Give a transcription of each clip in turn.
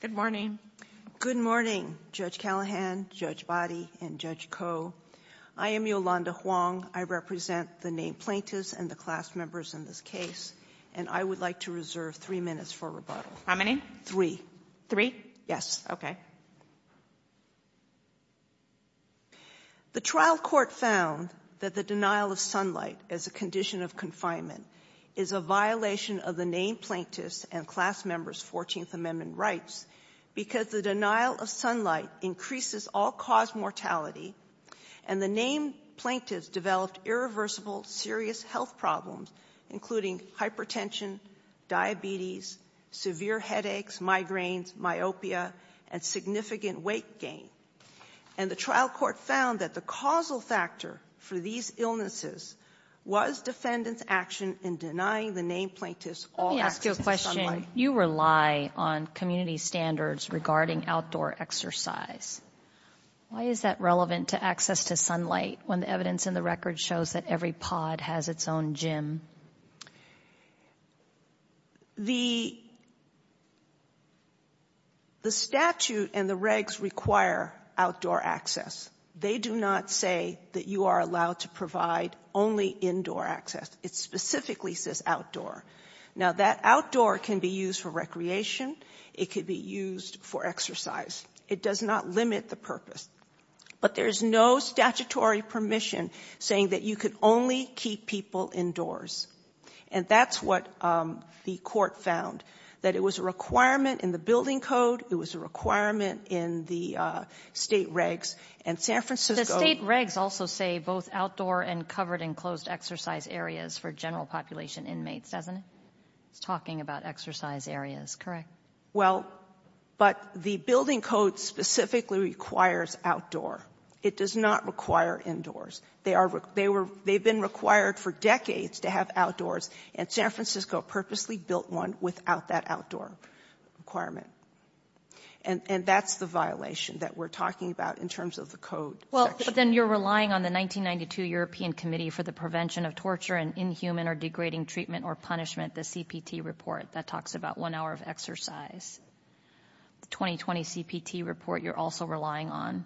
Good morning. Good morning, Judge Callahan, Judge Boddy, and Judge Koh. I am Yolanda Hwang. I represent the named plaintiffs and the class members in this case, and I would like to reserve three minutes for rebuttal. How many? Three. Three? Yes. Okay. The trial court found that the denial of sunlight as a condition of confinement is a violation of the named plaintiffs and class members' Fourteenth Amendment rights because the denial of sunlight increases all-cause mortality, and the named plaintiffs developed irreversible serious health problems, including hypertension, diabetes, severe headaches, migraines, myopia, and significant weight gain. And the trial court found that the causal factor for these illnesses was defendants' action in denying the named plaintiffs all access to sunlight. Let me ask you a question. You rely on community standards regarding outdoor exercise. Why is that relevant to access to sunlight when the evidence in the record shows that every pod has its own gym? The statute and the regs require outdoor access. They do not say that you are allowed to provide only indoor access. It specifically says outdoor. Now, that outdoor can be used for recreation. It could be used for exercise. It does not limit the purpose. But there is no statutory permission saying that you can only keep people indoors. And that's what the court found, that it was a requirement in the building code. It was a requirement in the state regs. And San Francisco The state regs also say both outdoor and covered and closed exercise areas for general population inmates, doesn't it? It's talking about exercise areas, correct? Well, but the building code specifically requires outdoor. It does not require indoors. They are they were they've been required for decades to have outdoors. And San Francisco purposely built one without that outdoor requirement. And that's the violation that we're talking about in terms of the code. Well, but then you're relying on the 1992 European Committee for the Prevention of Torture and Inhuman or Degrading Treatment or Punishment, the CPT report that talks about one hour of exercise. The 2020 CPT report you're also relying on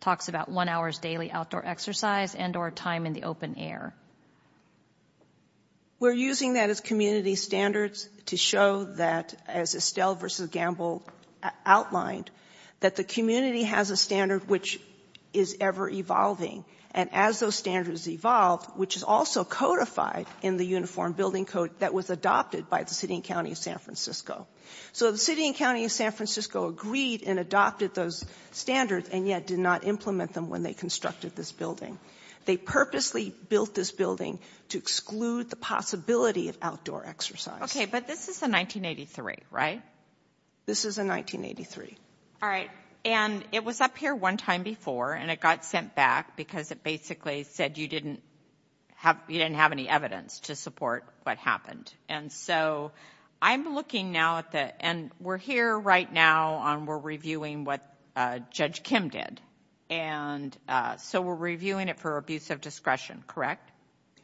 talks about one hour's daily outdoor exercise and or time in the open air. We're using that as community standards to show that as Estelle versus Gamble outlined, that the community has a standard which is ever evolving. And as those standards evolved, which is also codified in the uniform building code that was adopted by the city and county of San Francisco. So the city and county of San Francisco agreed and adopted those standards and yet did not implement them when they constructed this building. They purposely built this building to exclude the possibility of outdoor exercise. OK, but this is a 1983, right? This is a 1983. All right. And it was up here one time before and it got sent back because it basically said you didn't have, you didn't have any evidence to support what happened. And so I'm looking now at the, and we're here right now on, we're reviewing what Judge Kim did. And so we're reviewing it for abuse of discretion, correct?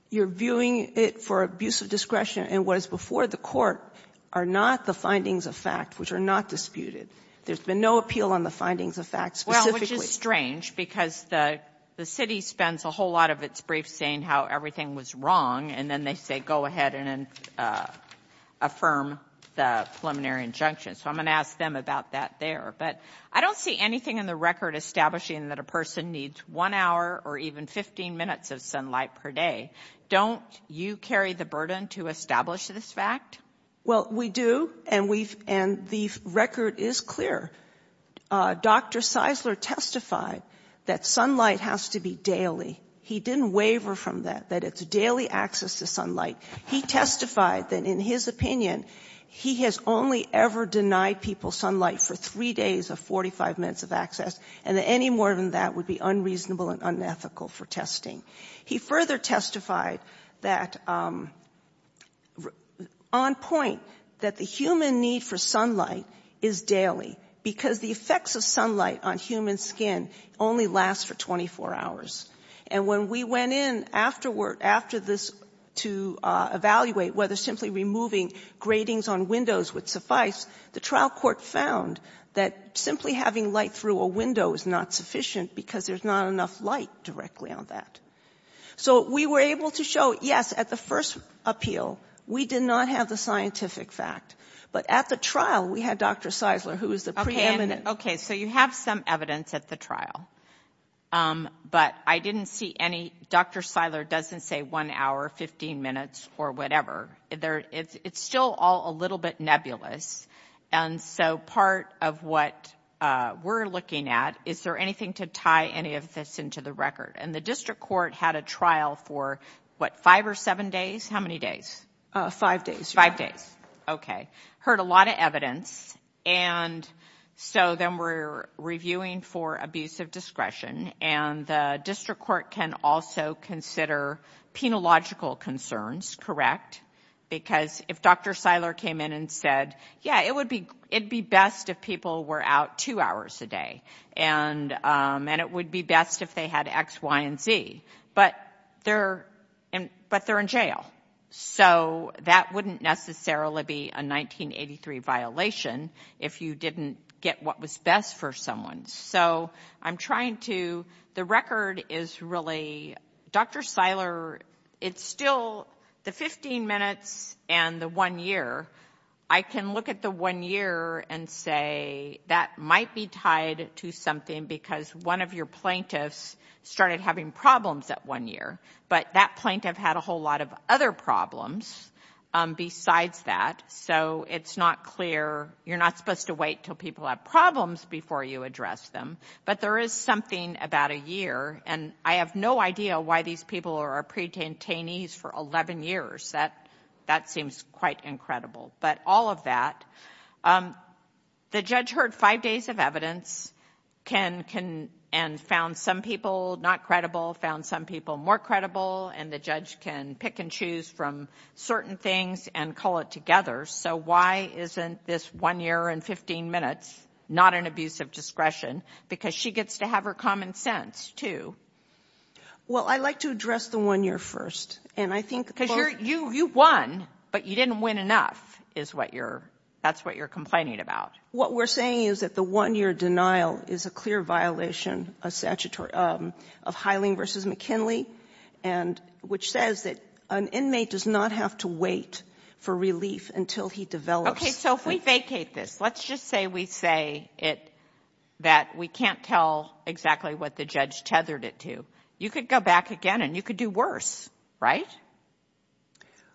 You're viewing it for abuse of discretion and what is before the court are not the findings of fact, which are not disputed. There's been no appeal on the findings of fact specifically. Which is strange because the city spends a whole lot of its briefs saying how everything was wrong and then they say, go ahead and affirm the preliminary injunction. So I'm going to ask them about that there. But I don't see anything in the record establishing that a person needs one hour or even 15 minutes of sunlight per day. Don't you carry the burden to establish this fact? Well, we do and we've, and the record is clear. Dr. Seisler testified that sunlight has to be daily. He didn't waver from that, that it's daily access to sunlight. He testified that in his opinion, he has only ever denied people sunlight for three days of 45 minutes of access and that any more than that would be unreasonable and unethical for testing. He further testified that on point that the human need for sunlight is daily because the effects of sunlight on human skin only last for 24 hours. And when we went in afterward, after this to evaluate whether simply removing gratings on windows would suffice, the trial court found that simply having light through a window is not sufficient because there's not enough light directly on that. So we were able to show, yes, at the first appeal, we did not have the scientific fact. But at the trial, we had Dr. Seisler, who was the preeminent. Okay, so you have some evidence at the trial. But I didn't see any, Dr. Seisler doesn't say one hour, 15 minutes, or whatever. It's still all a little bit nebulous. And so part of what we're looking at, is there anything to tie any of this into the record? And the district court had a trial for what, five or seven days? How many days? Five days. Five days. Okay. Heard a lot of evidence. And so then we're reviewing for abuse of discretion. And the district court can also consider penological concerns, correct? Because if Dr. Seisler came in and said, yeah, it would be best if people were out two hours a day. And it would be best if they had X, Y, and Z. But they're in jail. So that wouldn't necessarily be a 1983 violation if you didn't get what was best for someone. So I'm trying to, the year, I can look at the one year and say, that might be tied to something because one of your plaintiffs started having problems that one year. But that plaintiff had a whole lot of other problems besides that. So it's not clear. You're not supposed to wait till people have problems before you address them. But there is something about a year. And I have no idea why these people are pre-detainees for 11 years. That seems quite incredible. But all of that. The judge heard five days of evidence and found some people not credible, found some people more credible. And the judge can pick and choose from certain things and call it together. So why isn't this one year and 15 minutes not an abuse of discretion? Because she gets to have her common sense, too. Well, I'd like to address the one year first. And I think Because you won, but you didn't win enough. That's what you're complaining about. What we're saying is that the one year denial is a clear violation of Hiling v. McKinley, which says that an inmate does not have to wait for relief until he develops So if we vacate this, let's just say we say that we can't tell exactly what the judge tethered it to. You could go back again and you could do worse, right?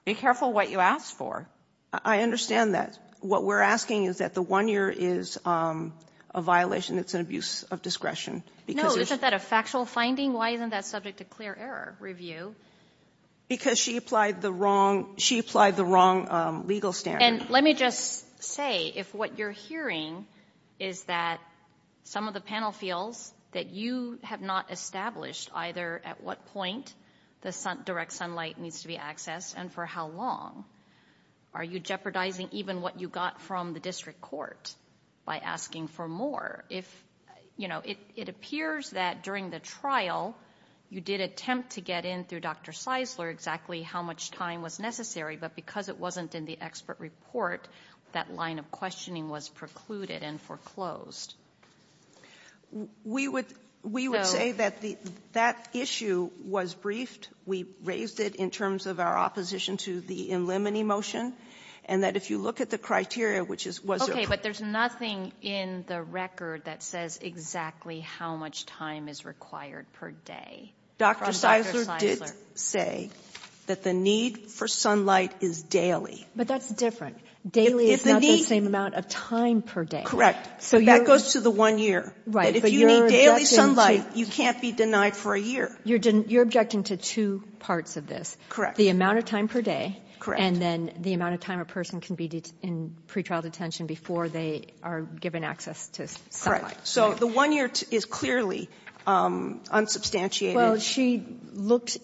Be careful what you ask for. I understand that. What we're asking is that the one year is a violation that's an abuse of discretion. No, isn't that a factual finding? Why isn't that subject to clear error review? Because she applied the wrong legal standard. Let me just say, if what you're hearing is that some of the panel feels that you have not established either at what point the direct sunlight needs to be accessed and for how long, are you jeopardizing even what you got from the district court by asking for more? It appears that during the trial, you did attempt to get in through Dr. Seisler exactly how much time was necessary, but because it wasn't in the expert report, that line of questioning was precluded and foreclosed. We would say that that issue was briefed. We raised it in terms of our opposition to the in limine motion, and that if you look at the criteria, which is Okay, but there's nothing in the record that says exactly how much time is required per day. Dr. Seisler did say that the need for sunlight is daily. But that's different. Daily is not the same amount of time per day. So that goes to the one year. Right. But if you need daily sunlight, you can't be denied for a year. You're objecting to two parts of this. Correct. The amount of time per day. Correct. And then the amount of time a person can be in pretrial detention before they are given access to sunlight. Correct. So the one year is clearly unsubstantiated. Well, she looked,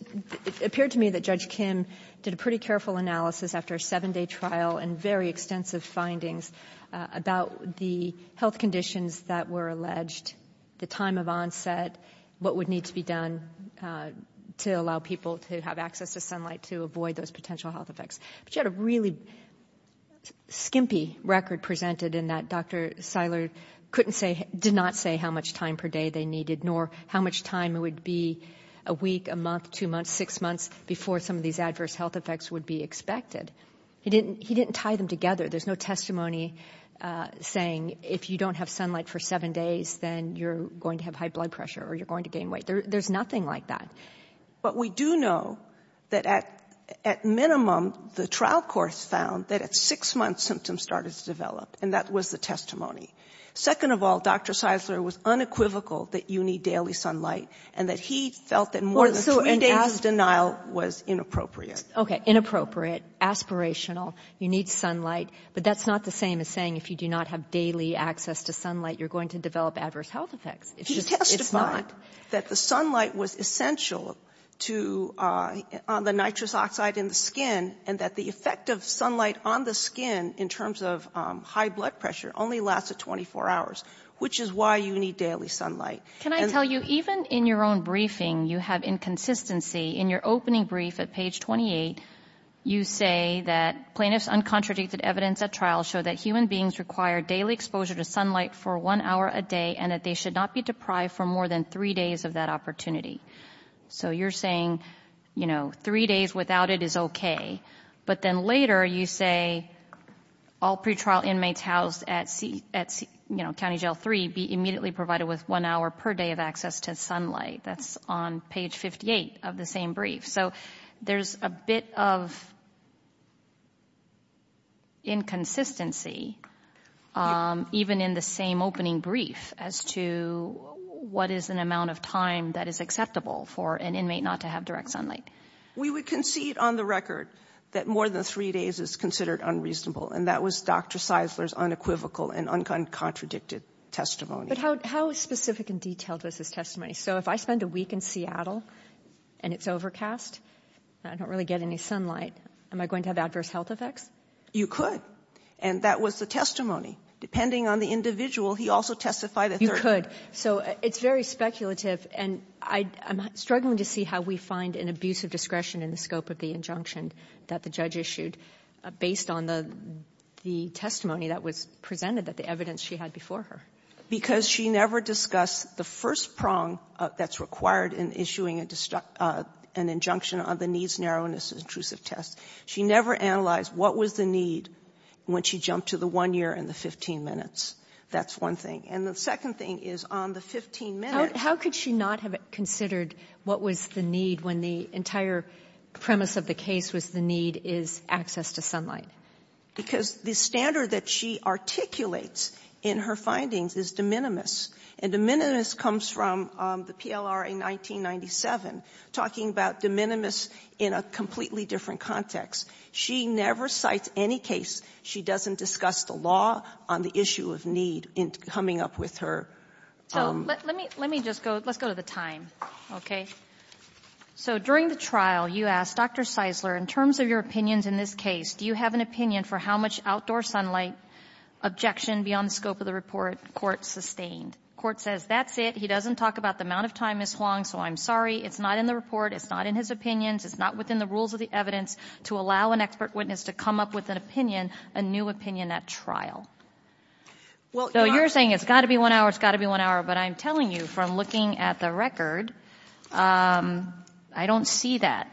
it appeared to me that Judge Kim did a pretty careful analysis after a seven day trial and very extensive findings about the health conditions that were alleged, the time of onset, what would need to be done to allow people to have access to sunlight to avoid those potential health effects. But she had a really skimpy record presented in that Dr. Seisler couldn't say, did not say how much time per day they needed, nor how much time it would be a week, a month, two months, six months before some of these adverse health effects would be expected. He didn't he didn't tie them together. There's no testimony saying if you don't have sunlight for seven days, then you're going to have high blood pressure or you're going to gain weight. There's nothing like that. But we do know that at at minimum, the trial courts found that at six months, symptoms started to develop. And that was the testimony. Second of all, Dr. Seisler was unequivocal that you need daily sunlight and that he felt that more than three days' denial was inappropriate. Okay. Inappropriate, aspirational, you need sunlight. But that's not the same as saying if you do not have daily access to sunlight, you're going to develop adverse health effects. He testified that the sunlight was essential to the nitrous oxide in the skin and that the effect of sunlight on the skin in terms of high blood pressure only lasts 24 hours, which is why you need daily sunlight. Can I tell you, even in your own briefing, you have inconsistency in your opening brief at page 28. You say that plaintiffs' uncontradicted evidence at trial show that human beings require daily exposure to sunlight for one hour a day and that they should not be deprived for more than three days of that opportunity. So you're saying, you know, three days without it is okay. But then later you say all pretrial inmates housed at County Jail 3 be immediately provided with one hour per day of access to sunlight. That's on page 58 of the same brief. So there's a bit of inconsistency even in the same opening brief as to what is an amount of time that is acceptable for an inmate not to have direct sunlight. We would concede on the record that more than three days is considered unreasonable and that was Dr. Seisler's unequivocal and uncontradicted testimony. But how specific and detailed was his testimony? So if I spend a week in Seattle and it's overcast and I don't really get any sunlight, am I going to have adverse health effects? You could. And that was the testimony. Depending on the individual, he also testified that there are... You could. So it's very speculative and I'm struggling to see how we find an abuse of discretion in the scope of the injunction that the judge issued based on the testimony that was presented, that the evidence she had before her. Because she never discussed the first prong that's required in issuing an injunction on the needs, narrowness, and intrusive test. She never analyzed what was the need when she jumped to the one year and the 15 minutes. That's one thing. And the second thing is on the 15 minutes... How could she not have considered what was the need when the entire premise of the case was the need is access to sunlight? Because the standard that she articulates in her findings is de minimis. And de minimis comes from the PLRA 1997, talking about de minimis in a completely different context. She never cites any case. She doesn't discuss the law on the issue of need in coming up with her... So let me just go, let's go to the time, okay? So during the trial, you asked Dr. Seisler, in terms of your opinions in this case, do you have an opinion for how much outdoor sunlight objection beyond the scope of the report the Court sustained? The Court says that's it. He doesn't talk about the amount of time, Ms. Huang, so I'm sorry. It's not in the report. It's not in his opinions. It's not within the rules of the evidence to allow an expert witness to come up with an opinion, a new opinion at trial. So you're saying it's got to be one hour, it's got to be one hour, but I'm telling you, from looking at the record, I don't see that.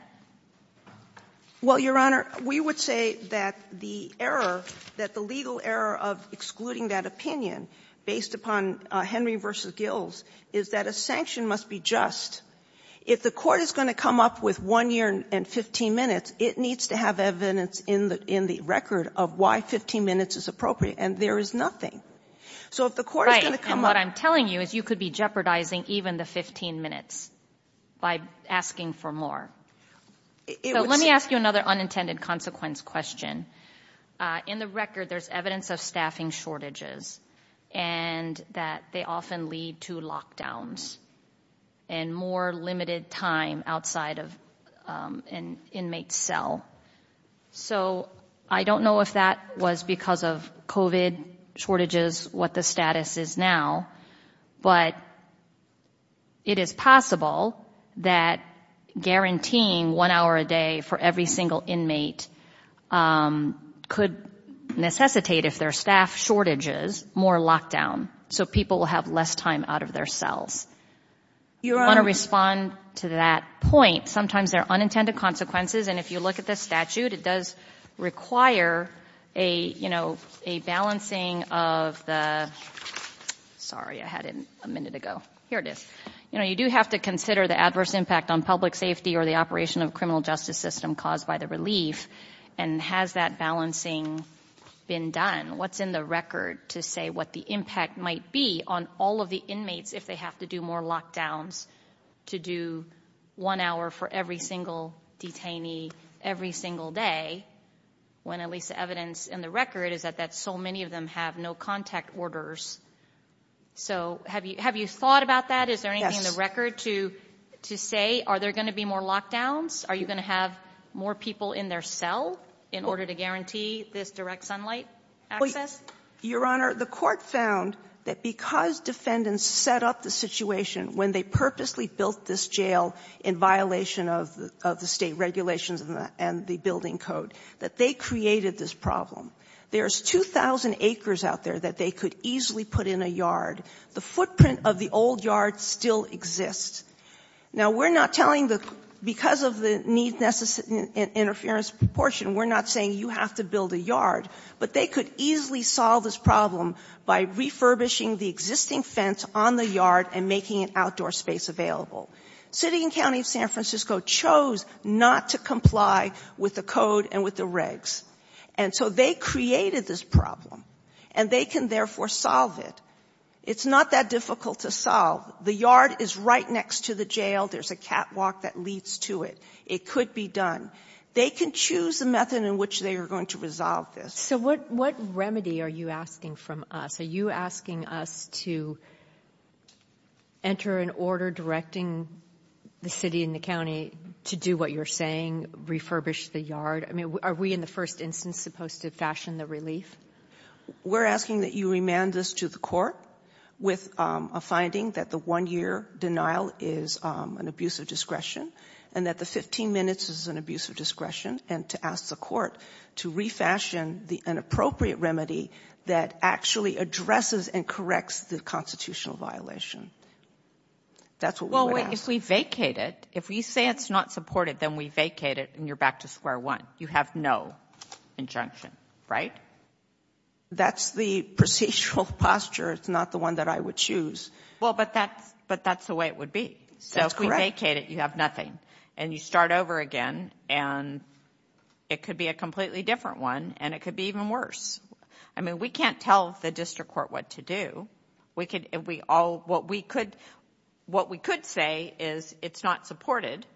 Well, Your Honor, we would say that the error, that the legal error of excluding that opinion based upon Henry v. Gills is that a sanction must be just. If the Court is going to come up with one year and 15 minutes, it needs to have evidence in the record of why 15 minutes is appropriate, and there is nothing. So if the Court is going to come up— Right, and what I'm telling you is you could be jeopardizing even the 15 minutes by asking for more. It would— So let me ask you another unintended consequence question. In the record, there's evidence of staffing shortages and that they often lead to lockdowns and more limited time outside of an inmate's cell. So I don't know if that was because of COVID shortages, what the status is now, but it is possible that guaranteeing one hour a day for every single inmate could necessitate, if there are staff shortages, more lockdown, so people will have less time out of their cells. Your Honor— I want to respond to that point. Sometimes there are unintended consequences, and if you look at the statute, it does require a, you know, a balancing of the— Sorry, I had it a minute ago. Here it is. You know, you do have to consider the adverse impact on public safety or the operation of a criminal justice system caused by the relief, and has that balancing been done? What's in the record to say what the impact might be on all of the inmates if they have to do more lockdowns, to do one hour for every single detainee every single day, when at least the evidence in the record is that so many of them have no contact orders? So have you thought about that? Is there anything in the record to say, are there going to be more lockdowns? Are you going to have more people in their cell in order to guarantee this direct sunlight access? Your Honor, the Court found that because defendants set up the situation when they purposely built this jail in violation of the State regulations and the building code, that they created this problem. There's 2,000 acres out there that they could easily put in a yard. The footprint of the old yard still exists. Now, we're not telling the — because of the need-interference proportion, we're not saying you have to build a yard. But they could easily solve this problem by refurbishing the existing fence on the yard and making an outdoor space available. City and County of San Francisco chose not to comply with the code and with the regs. And so they created this problem. And they can therefore solve it. It's not that difficult to solve. The yard is right next to the jail. There's a catwalk that leads to it. It could be done. They can choose the method in which they are going to resolve this. So what remedy are you asking from us? Are you asking us to enter an order directing the city and the county to do what you're saying, refurbish the yard? I mean, are we in the first instance supposed to fashion the relief? We're asking that you remand this to the court with a finding that the one-year denial is an abuse of discretion and that the 15 minutes is an abuse of discretion and to ask the court to refashion the inappropriate remedy that actually addresses and corrects the constitutional violation. That's what we would ask. Well, if we vacate it, if we say it's not supported, then we vacate it and you're back to square one. You have no injunction, right? That's the procedural posture. It's not the one that I would choose. Well, but that's the way it would be. So if we vacate it, you have nothing. And you start over again and it could be a completely different one and it could be even worse. I mean, we can't tell the district court what to do. What we could say is it's not supported.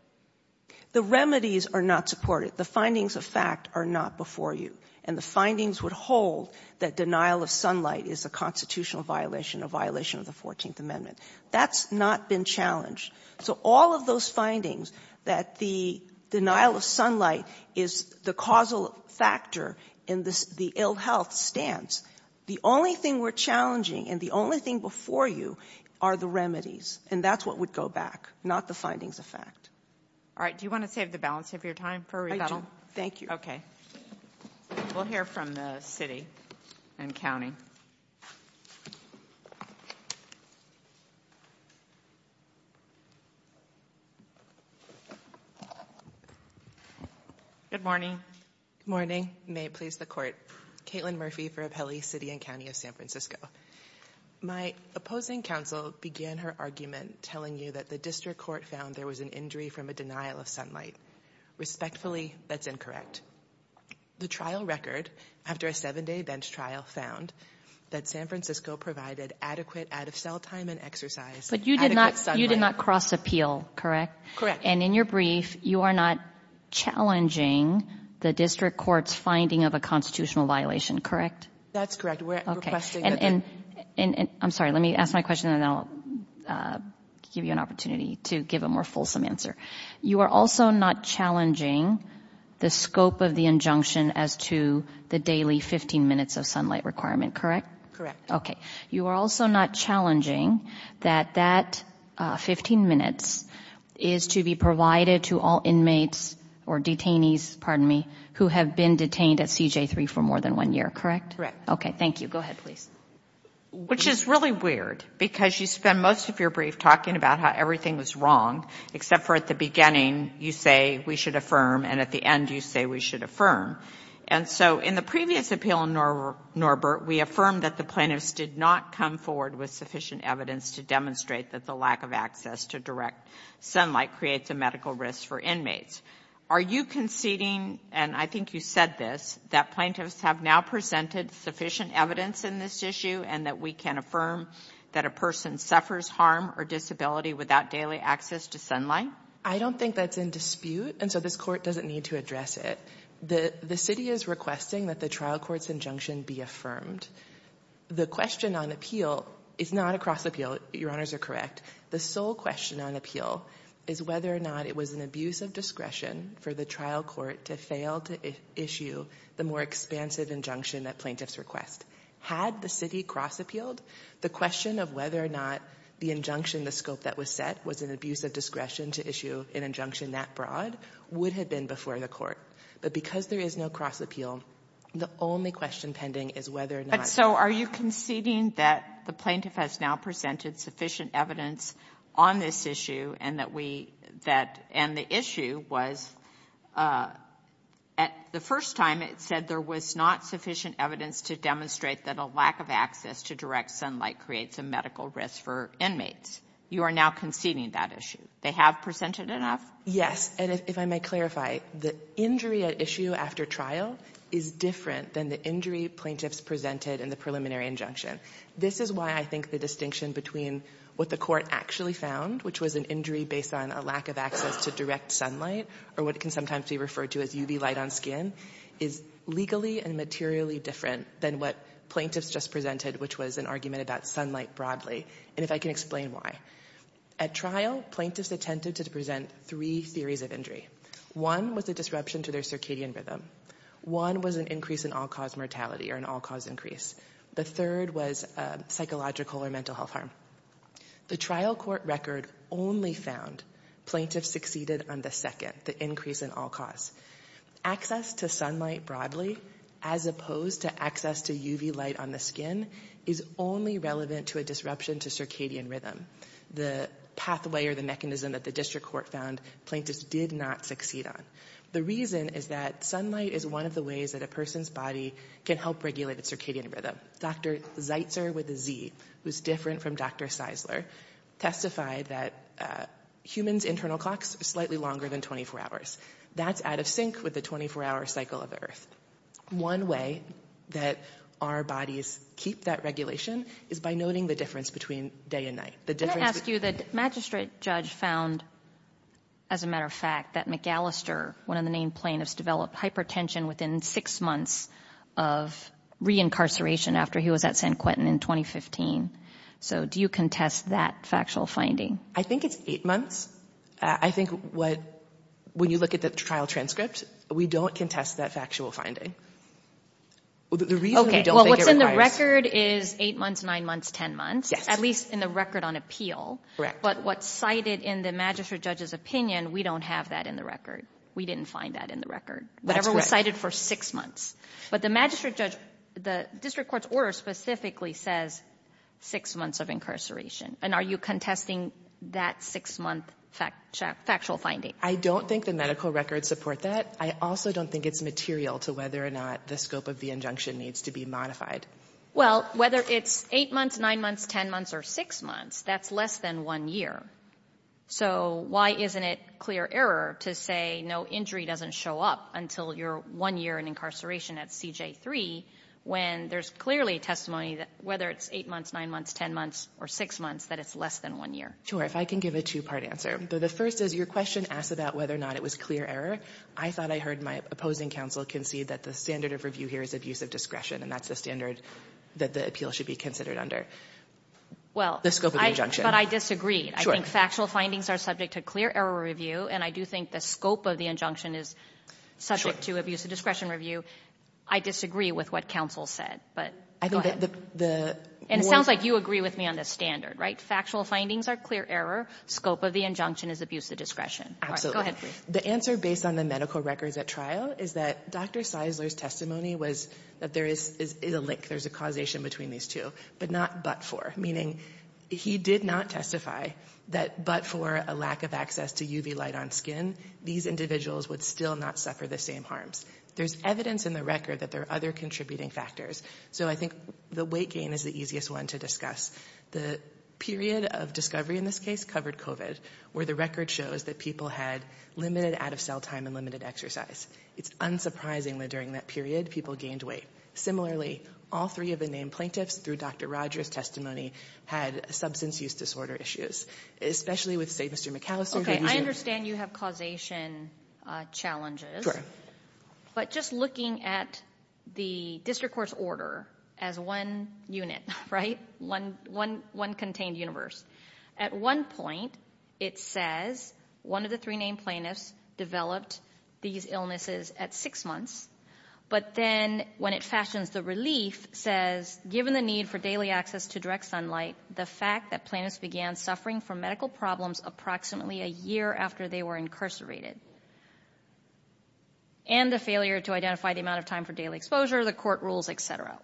The remedies are not supported. The findings of fact are not before you. And the findings would hold that denial of sunlight is a constitutional violation, a violation of the 14th Amendment. That's not been challenged. So all of those findings that the denial of sunlight is the causal factor in the ill health stance, the only thing we're challenging and the only thing before you are the remedies. And that's what would go back, not the findings of fact. All right. Do you want to save the balance of your time for rebuttal? Thank you. Okay. We'll hear from the city and county. Good morning. Good morning. May it please the court. Caitlin Murphy for Appellee City and County of San Francisco. My opposing counsel began her argument telling you that the district court found there was an injury from a denial of sunlight. Respectfully, that's incorrect. The trial record after a seven-day bench trial found that San Francisco provided adequate out-of-cell time and exercise. But you did not cross appeal, correct? Correct. And in your brief, you are not challenging the district court's finding of a constitutional violation, correct? That's correct. I'm sorry. Let me ask my question and then I'll give you an opportunity to give a more fulsome answer. You are also not challenging the scope of the injunction as to the daily 15 minutes of sunlight requirement, correct? Correct. Okay. You are also not challenging that that 15 minutes is to be provided to all inmates or detainees, pardon me, who have been detained at CJ3 for more than one year, correct? Correct. Okay. Thank you. Go ahead, please. Which is really weird because you spend most of your brief talking about how everything was wrong, except for at the beginning you say we should affirm and at the end you say we should affirm. And so in the previous appeal in Norbert, we affirmed that the plaintiffs did not come forward with sufficient evidence to demonstrate that the lack of access to direct sunlight creates a medical risk for inmates. Are you conceding, and I think you said this, that plaintiffs have now presented sufficient evidence in this issue and that we can affirm that a person suffers harm or disability without daily access to sunlight? I don't think that's in dispute and so this Court doesn't need to address it. The City is requesting that the trial court's injunction be affirmed. The question on appeal is not a cross appeal, Your Honors are correct. The sole question on appeal is whether or not it was an abuse of discretion for the trial court to fail to issue the more expansive injunction that plaintiffs request. Had the City cross appealed, the question of whether or not the injunction, the scope that was set, was an abuse of discretion to issue an injunction that broad would have been before the Court. But because there is no cross appeal, the only question pending is whether or not. But so are you conceding that the plaintiff has now presented sufficient evidence on this issue and that we, that, and the issue was at the first time it said there was not sufficient evidence to demonstrate that a lack of access to direct sunlight creates a medical risk for inmates. You are now conceding that issue. They have presented enough? And if I may clarify, the injury at issue after trial is different than the injury plaintiffs presented in the preliminary injunction. This is why I think the distinction between what the Court actually found, which was an injury based on a lack of access to direct sunlight, or what can sometimes be referred to as UV light on skin, is legally and materially different than what plaintiffs just presented, which was an argument about sunlight broadly. And if I can explain why. At trial, plaintiffs attempted to present three theories of injury. One was a disruption to their circadian rhythm. One was an increase in all-cause mortality or an all-cause increase. The third was psychological or mental health harm. The trial court record only found plaintiffs succeeded on the second, the increase in all-cause. Access to sunlight broadly, as opposed to access to UV light on the skin, is only relevant to a disruption to circadian rhythm. The pathway or the mechanism that the district court found, plaintiffs did not succeed on. The reason is that sunlight is one of the ways that a person's body can help regulate its circadian rhythm. Dr. Zeitzer with a Z, who's different from Dr. Seisler, testified that humans' internal clocks are slightly longer than 24 hours. That's out of sync with the 24-hour cycle of Earth. One way that our bodies keep that regulation is by noting the difference between day and night. Can I ask you, the magistrate judge found, as a matter of fact, that McAllister, one of the main plaintiffs, developed hypertension within six months of reincarceration after he was at San Quentin in 2015. So do you contest that factual finding? I think it's eight months. I think when you look at the trial transcript, we don't contest that factual finding. The reason we don't think it requires- Okay, well, what's in the record is eight months, nine months, ten months, at least in the record on appeal. But what's cited in the magistrate judge's opinion, we don't have that in the We didn't find that in the record. Whatever was cited for six months. But the magistrate judge, the district court's order specifically says six months of incarceration. And are you contesting that six-month factual finding? I don't think the medical records support that. I also don't think it's material to whether or not the scope of the injunction needs to be modified. Well, whether it's eight months, nine months, ten months, or six months, that's less than one year. So why isn't it clear error to say no injury doesn't show up until you're one year in incarceration at CJ3 when there's clearly testimony that whether it's eight months, nine months, ten months, or six months, that it's less than one year? Sure. If I can give a two-part answer. The first is your question asked about whether or not it was clear error. I thought I heard my opposing counsel concede that the standard of review here is abuse of discretion. And that's the standard that the appeal should be considered under. Well- The scope of the injunction. But I disagree. Sure. I think factual findings are subject to clear error review. And I do think the scope of the injunction is subject to abuse of discretion review. I disagree with what counsel said. But go ahead. And it sounds like you agree with me on this standard, right? Factual findings are clear error. Scope of the injunction is abuse of discretion. Absolutely. The answer based on the medical records at trial is that Dr. Seisler's testimony was that there is a link. There's a causation between these two. But not but for. Meaning he did not testify that but for a lack of access to UV light on skin, these individuals would still not suffer the same harms. There's evidence in the record that there are other contributing factors. So I think the weight gain is the easiest one to discuss. The period of discovery in this case covered COVID, where the record shows that people had limited out-of-cell time and limited exercise. It's unsurprising that during that period, people gained weight. Similarly, all three of the named plaintiffs through Dr. Rogers' testimony had substance use disorder issues, especially with, say, Mr. McAllister. OK. I understand you have causation challenges. Sure. But just looking at the district court's order as one unit, right, one contained universe. At one point, it says one of the three named plaintiffs developed these illnesses at six months. But then when it fashions the relief, it says, given the need for daily access to direct sunlight, the fact that plaintiffs began suffering from medical problems approximately a year after they were incarcerated. And the failure to identify the amount of time for daily exposure, the court rules,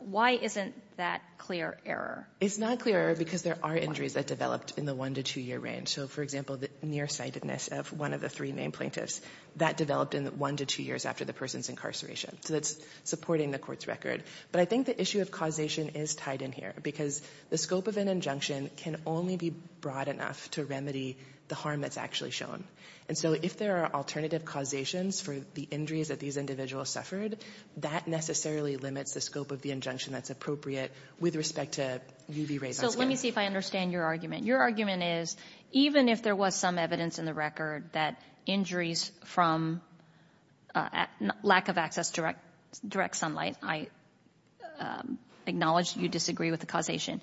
Why isn't that clear error? It's not clear error because there are injuries that developed in the one-to-two-year range. So, for example, the nearsightedness of one of the three named plaintiffs that developed in the one-to-two years after the person's incarceration. So that's supporting the court's record. But I think the issue of causation is tied in here because the scope of an injunction can only be broad enough to remedy the harm that's actually shown. And so if there are alternative causations for the injuries that these individuals suffered, that necessarily limits the scope of the injunction that's appropriate with respect to UV rays. So let me see if I understand your argument. Your argument is, even if there was some evidence in the record that injuries from lack of access to direct sunlight, I acknowledge you disagree with the causation,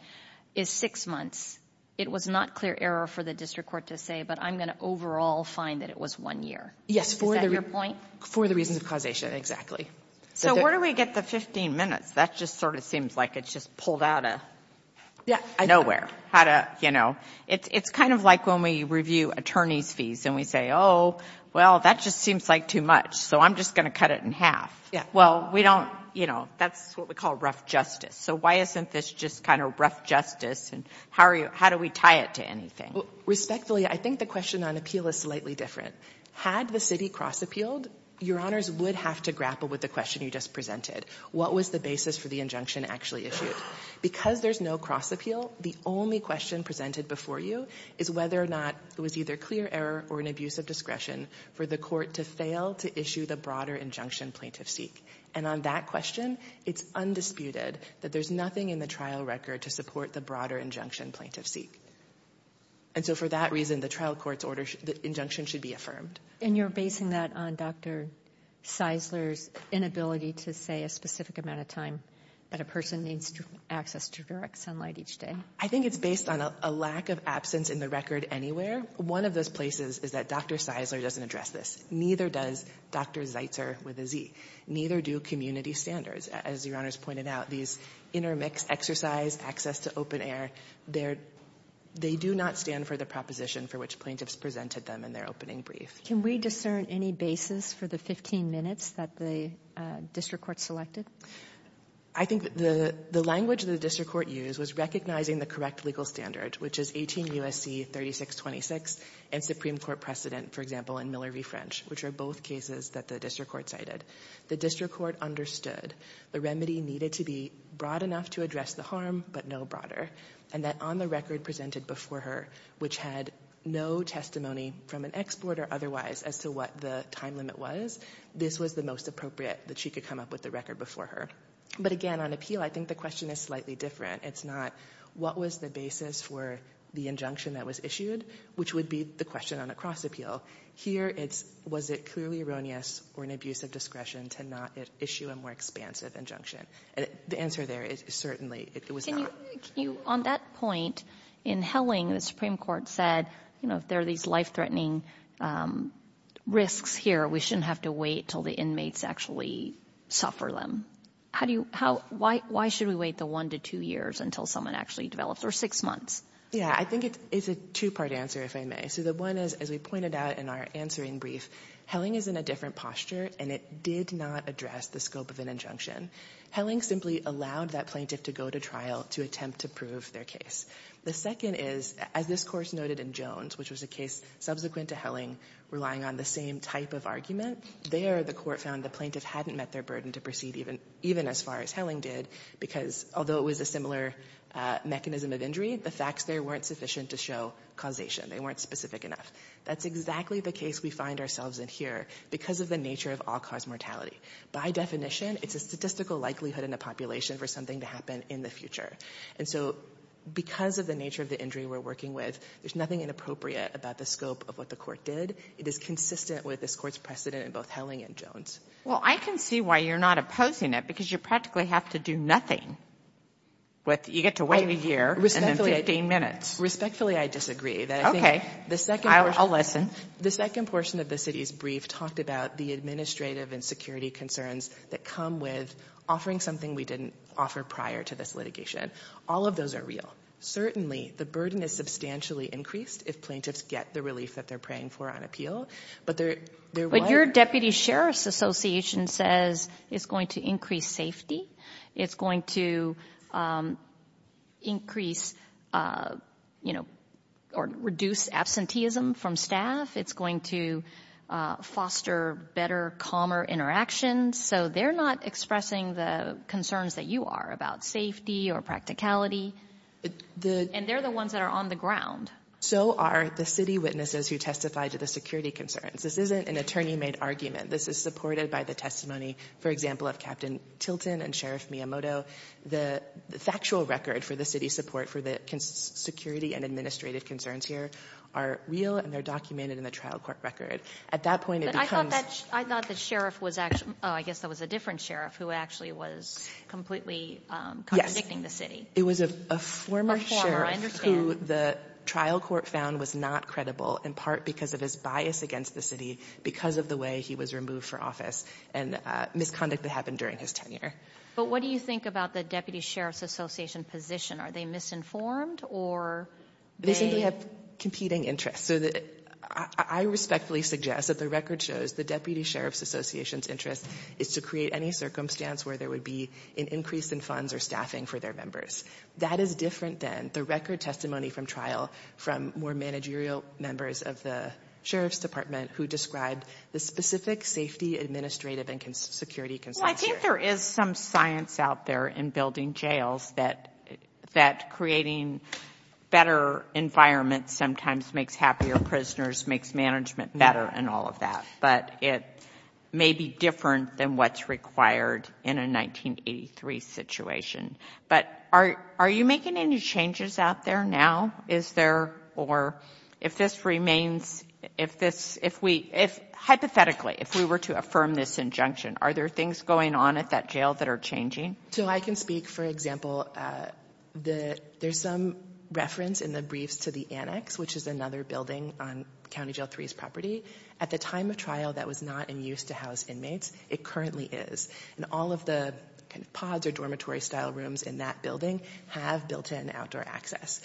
is six months, it was not clear error for the district court to say. But I'm going to overall find that it was one year. Is that your point? Yes, for the reasons of causation, exactly. So where do we get the 15 minutes? That just sort of seems like it's just pulled out of nowhere. It's kind of like when we review attorney's fees and we say, oh, well, that just seems like too much. So I'm just going to cut it in half. Well, we don't, you know, that's what we call rough justice. So why isn't this just kind of rough justice and how do we tie it to anything? Respectfully, I think the question on appeal is slightly different. Had the city cross appealed, your honors would have to grapple with the question you just presented. What was the basis for the injunction actually issued? Because there's no cross appeal, the only question presented before you is whether or not it was either clear error or an abuse of discretion for the court to fail to issue the broader injunction plaintiff seek. And on that question, it's undisputed that there's nothing in the trial record to support the broader injunction plaintiff seek. And so for that reason, the trial court's order, the injunction should be affirmed. And you're basing that on Dr. Seisler's inability to say a specific amount of time that a person needs access to direct sunlight each day? I think it's based on a lack of absence in the record anywhere. One of those places is that Dr. Seisler doesn't address this. Neither does Dr. Zeitzer with a Z. Neither do community standards. As your honors pointed out, these intermix exercise, access to open air, they're they do not stand for the proposition for which plaintiffs presented them in their opening brief. Can we discern any basis for the 15 minutes that the district court selected? I think the language the district court used was recognizing the correct legal standard, which is 18 U.S.C. 3626 and Supreme Court precedent, for example, in Miller v. French, which are both cases that the district court cited. The district court understood the remedy needed to be broad enough to address the harm, but no broader, and that on the record presented before her, which had no testimony from an exporter otherwise as to what the time limit was, this was the most appropriate that she could come up with the record before her. But again, on appeal, I think the question is slightly different. It's not what was the basis for the injunction that was issued, which would be the question on a cross appeal. Here, it's was it clearly erroneous or an abuse of discretion to not issue a more expansive injunction? The answer there is certainly it was not. On that point, in Helling, the Supreme Court said, you know, if there are these life-threatening risks here, we shouldn't have to wait until the inmates actually suffer them. Why should we wait the one to two years until someone actually develops, or six months? Yeah, I think it's a two-part answer, if I may. So the one is, as we pointed out in our answering brief, Helling is in a different posture, and it did not address the scope of an injunction. Helling simply allowed that plaintiff to go to trial to attempt to prove their case. The second is, as this Court noted in Jones, which was a case subsequent to Helling, relying on the same type of argument. There, the Court found the plaintiff hadn't met their burden to proceed even as far as Helling did, because although it was a similar mechanism of injury, the facts there weren't sufficient to show causation. They weren't specific enough. That's exactly the case we find ourselves in here, because of the nature of all-cause mortality. By definition, it's a statistical likelihood in a population for something to happen in the future. And so, because of the nature of the injury we're working with, there's nothing inappropriate about the scope of what the Court did. It is consistent with this Court's precedent in both Helling and Jones. Well, I can see why you're not opposing it, because you practically have to do nothing. You get to wait a year, and then 15 minutes. Respectfully, I disagree. Okay, I'll listen. The second portion of the city's brief talked about the administrative and security concerns that come with offering something we didn't offer prior to this litigation. All of those are real. Certainly, the burden is substantially increased if plaintiffs get the relief that they're praying for on appeal. But there was— But your Deputy Sheriff's Association says it's going to increase safety. It's going to increase, you know, or reduce absenteeism from staff. It's going to foster better, calmer interactions. So, they're not expressing the concerns that you are about safety or practicality. And they're the ones that are on the ground. So are the city witnesses who testify to the security concerns. This isn't an attorney-made argument. This is supported by the testimony, for example, of Captain Tilton and Sheriff Miyamoto. The factual record for the city's support for the security and administrative concerns here are real, and they're documented in the trial court record. At that point, it becomes— But I thought that sheriff was actually—oh, I guess that was a different sheriff who actually was completely contradicting the city. Yes. It was a former sheriff who the trial court found was not credible, in part because of his bias against the city because of the way he was removed for office and misconduct that happened during his tenure. But what do you think about the Deputy Sheriff's Association position? Are they misinformed, or they— They simply have competing interests. So the — I respectfully suggest that the record shows the Deputy Sheriff's Association's interest is to create any circumstance where there would be an increase in funds or staffing for their members. That is different than the record testimony from trial from more managerial members of the sheriff's department who described the specific safety, administrative, and security concerns here. Well, I think there is some science out there in building jails that creating better environments sometimes makes happier prisoners, makes management better, and all of that. But it may be different than what's required in a 1983 situation. But are you making any changes out there now? Is there—or if this remains—if this—if we—hypothetically, if we were to affirm this injunction, are there things going on at that jail that are changing? So I can speak, for example, that there's some reference in the briefs to the annex, which is another building on County Jail 3's property. At the time of trial, that was not in use to house inmates. It currently is. And all of the kind of pods or dormitory-style rooms in that building have built-in outdoor access.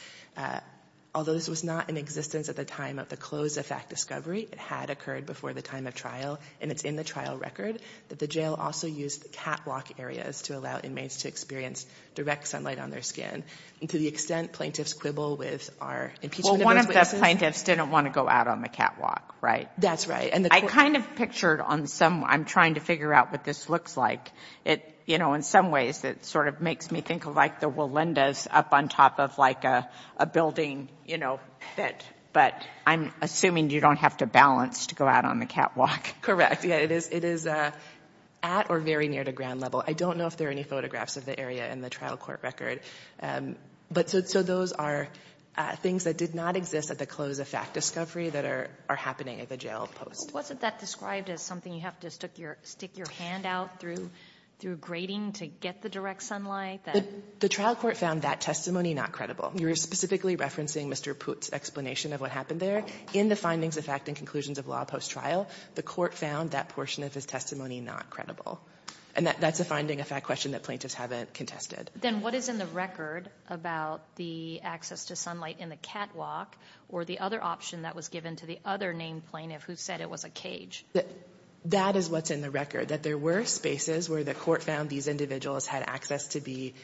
Although this was not in existence at the time of the close-of-fact discovery, it had occurred before the time of trial, and it's in the trial record, that the jail also used catwalk areas to allow inmates to experience direct sunlight on their skin. And to the extent plaintiffs quibble with our impeachment— Well, one of the plaintiffs didn't want to go out on the catwalk, right? That's right. I kind of pictured on some—I'm trying to figure out what this looks like. It, you know, in some ways, it sort of makes me think of, like, the Walendas up on top of, like, a building, you know, fit. But I'm assuming you don't have to balance to go out on the catwalk. Correct. Yeah, it is at or very near to ground level. I don't know if there are any photographs of the area in the trial court record. So those are things that did not exist at the close-of-fact discovery that are happening at the jail post. Wasn't that described as something you have to stick your hand out through grading to get the direct sunlight? The trial court found that testimony not credible. You're specifically referencing Mr. Pute's explanation of what happened there. In the findings of fact and conclusions of law post-trial, the court found that portion of his testimony not credible. And that's a finding, a fact question, that plaintiffs haven't contested. Then what is in the record about the access to sunlight in the catwalk or the other option that was given to the other named plaintiff who said it was a cage? That is what's in the record, that there were spaces where the court found these individuals had access to be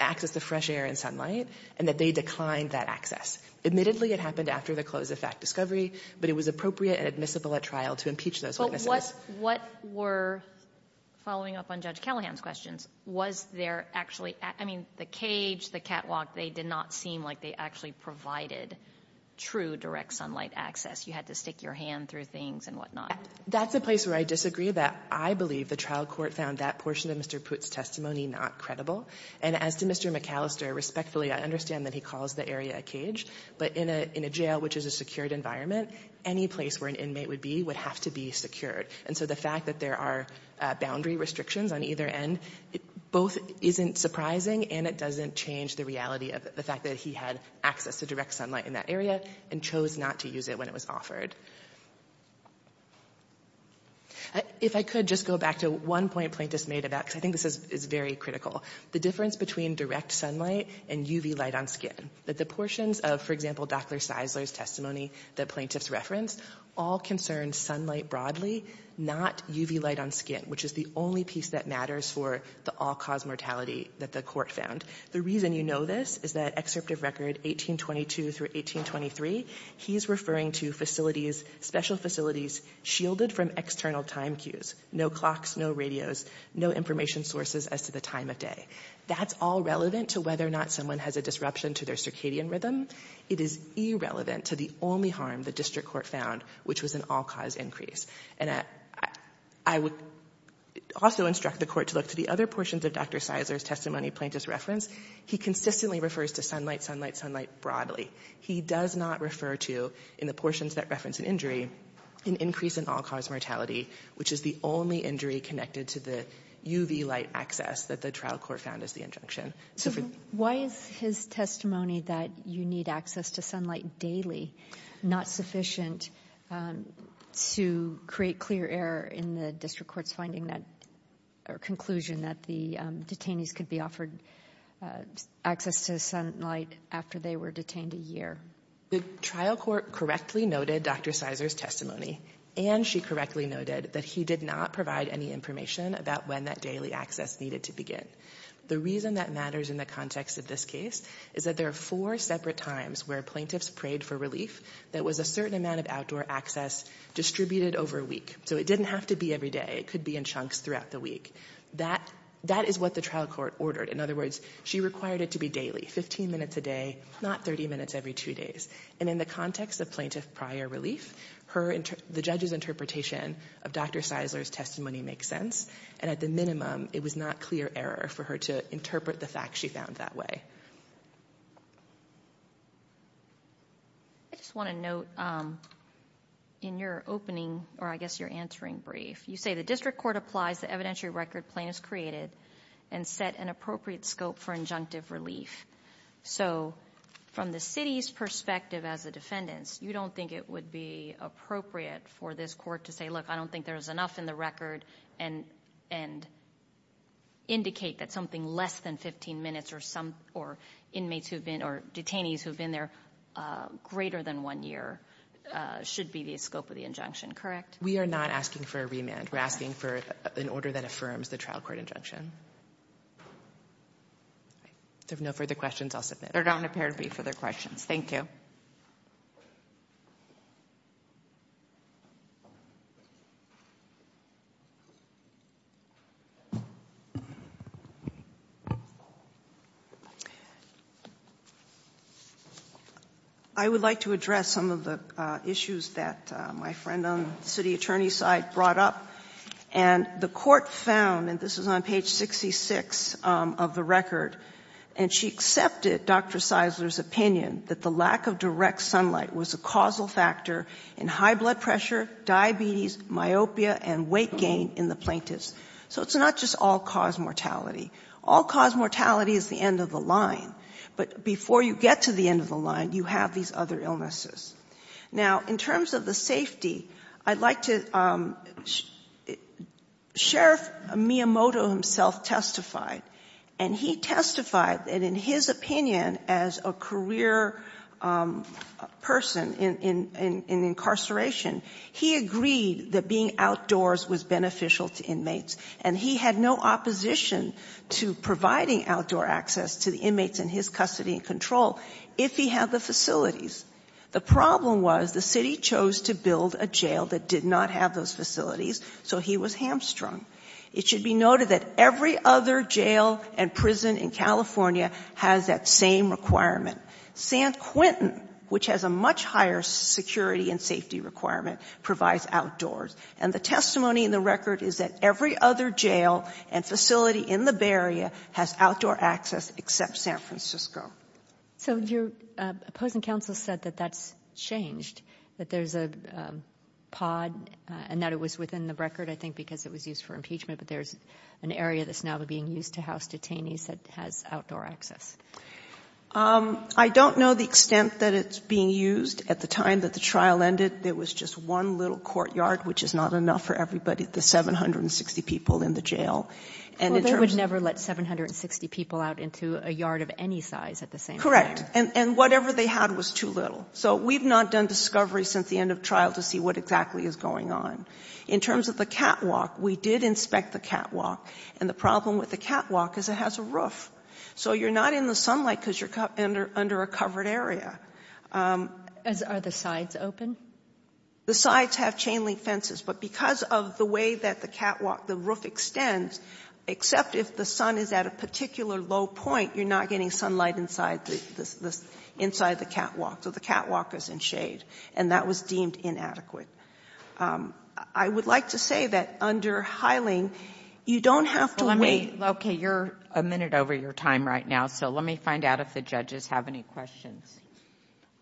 access to fresh air and sunlight, and that they declined that access. Admittedly, it happened after the close-of-fact discovery, but it was appropriate and admissible at trial to impeach those witnesses. What were, following up on Judge Callahan's questions, was there actually, I mean, the cage, the catwalk, they did not seem like they actually provided true direct sunlight access. You had to stick your hand through things and whatnot. That's a place where I disagree, that I believe the trial court found that portion of Mr. Pute's testimony not credible. And as to Mr. McAllister, respectfully, I understand that he calls the area a cage, but in a jail, which is a secured environment, any place where an inmate would be would have to be secured. And so the fact that there are boundary restrictions on either end, both isn't surprising and it doesn't change the reality of the fact that he had access to direct sunlight in that area and chose not to use it when it was offered. If I could just go back to one point plaintiffs made about, because I think this is very critical, the difference between direct sunlight and UV light on skin, that the portions of, for example, Dr. Seisler's testimony that plaintiffs referenced, all concerned sunlight broadly, not UV light on skin, which is the only piece that matters for the all-cause mortality that the court found. The reason you know this is that excerpt of record 1822 through 1823, he's referring to facilities, special facilities, shielded from external time cues, no clocks, no radios, no information sources as to the time of day. That's all relevant to whether or not someone has a disruption to their circadian rhythm. It is irrelevant to the only harm the district court found, which was an all-cause increase. And I would also instruct the court to look to the other portions of Dr. Seisler's testimony plaintiffs referenced. He consistently refers to sunlight, sunlight, sunlight broadly. He does not refer to, in the portions that reference an injury, an increase in all-cause mortality, which is the only injury connected to the UV light access that the trial court found as the injunction. Why is his testimony that you need access to sunlight daily not sufficient to create clear error in the district court's finding that or conclusion that the detainees could be offered access to sunlight after they were detained a year? The trial court correctly noted Dr. Seisler's testimony, and she correctly noted that he did not provide any information about when that daily access needed to begin. The reason that matters in the context of this case is that there are four separate times where plaintiffs prayed for relief that was a certain amount of outdoor access distributed over a week. So it didn't have to be every day. It could be in chunks throughout the week. That is what the trial court ordered. In other words, she required it to be daily, 15 minutes a day, not 30 minutes every two days. And in the context of plaintiff prior relief, the judge's interpretation of Dr. Seisler's testimony makes sense. And at the minimum, it was not clear error for her to interpret the fact she found that way. I just want to note in your opening, or I guess your answering brief, you say the district court applies the evidentiary record plaintiffs created and set an appropriate scope for injunctive relief. So from the city's perspective as the defendants, you don't think it would be appropriate for this court to say, look, I don't think there's enough in the record and indicate that something less than 15 minutes or inmates who've been or detainees who've been there greater than one year should be the scope of the injunction, correct? We are not asking for a remand. We're asking for an order that affirms the trial court injunction. If there are no further questions, I'll submit. There don't appear to be further questions. Thank you. I would like to address some of the issues that my friend on the city attorney's side brought up. And the court found, and this is on page 66 of the record, and she accepted Dr. Seisler's opinion that the lack of direct sunlight was a causal factor in high blood pressure, diabetes, myopia, and weight gain in the plaintiffs. So it's not just all-cause mortality. All-cause mortality is the end of the line. But before you get to the end of the line, you have these other illnesses. Now, in terms of the safety, I'd like to... Sheriff Miyamoto himself testified, and he testified that in his opinion, as a career person in incarceration, he agreed that being outdoors was beneficial to inmates. And he had no opposition to providing outdoor access to the inmates in his custody and control if he had the facilities. The problem was the city chose to build a jail that did not have those facilities, so he was hamstrung. It should be noted that every other jail and prison in California has that same requirement. San Quentin, which has a much higher security and safety requirement, provides outdoors. And the testimony in the record is that every other jail and facility in the Bay Area has outdoor access except San Francisco. So your opposing counsel said that that's changed, that there's a pod, and that it was within the record, I think, because it was used for impeachment, but there's an area that's now being used to house detainees that has outdoor access. I don't know the extent that it's being used. At the time that the trial ended, there was just one little courtyard, which is not enough for everybody, the 760 people in the jail. Well, they would never let 760 people out into a yard of any size at the same time. Correct. And whatever they had was too little. So we've not done discovery since the end of trial to see what exactly is going on. In terms of the catwalk, we did inspect the catwalk. And the problem with the catwalk is it has a roof. So you're not in the sunlight because you're under a covered area. And are the sides open? The sides have chain link fences. But because of the way that the catwalk, the roof extends, except if the sun is at a particular low point, you're not getting sunlight inside the catwalk. So the catwalk is in shade. And that was deemed inadequate. I would like to say that under Hyling, you don't have to wait. OK, you're a minute over your time right now. So let me find out if the judges have any questions.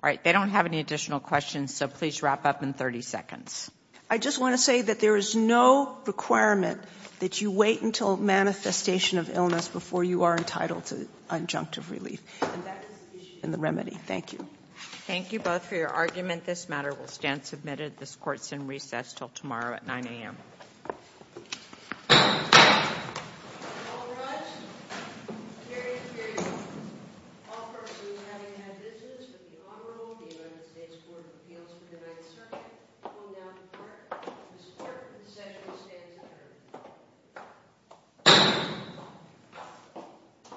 All right, they don't have any additional questions. So please wrap up in 30 seconds. I just want to say that there is no requirement that you wait until manifestation of illness before you are entitled to injunctive relief. And that is the issue and the remedy. Thank you. Thank you both for your argument. This matter will stand submitted. This court's in recess till tomorrow at 9 a.m. The United States Court of Appeals for the Ninth Circuit will now depart. This court in recess will stand adjourned.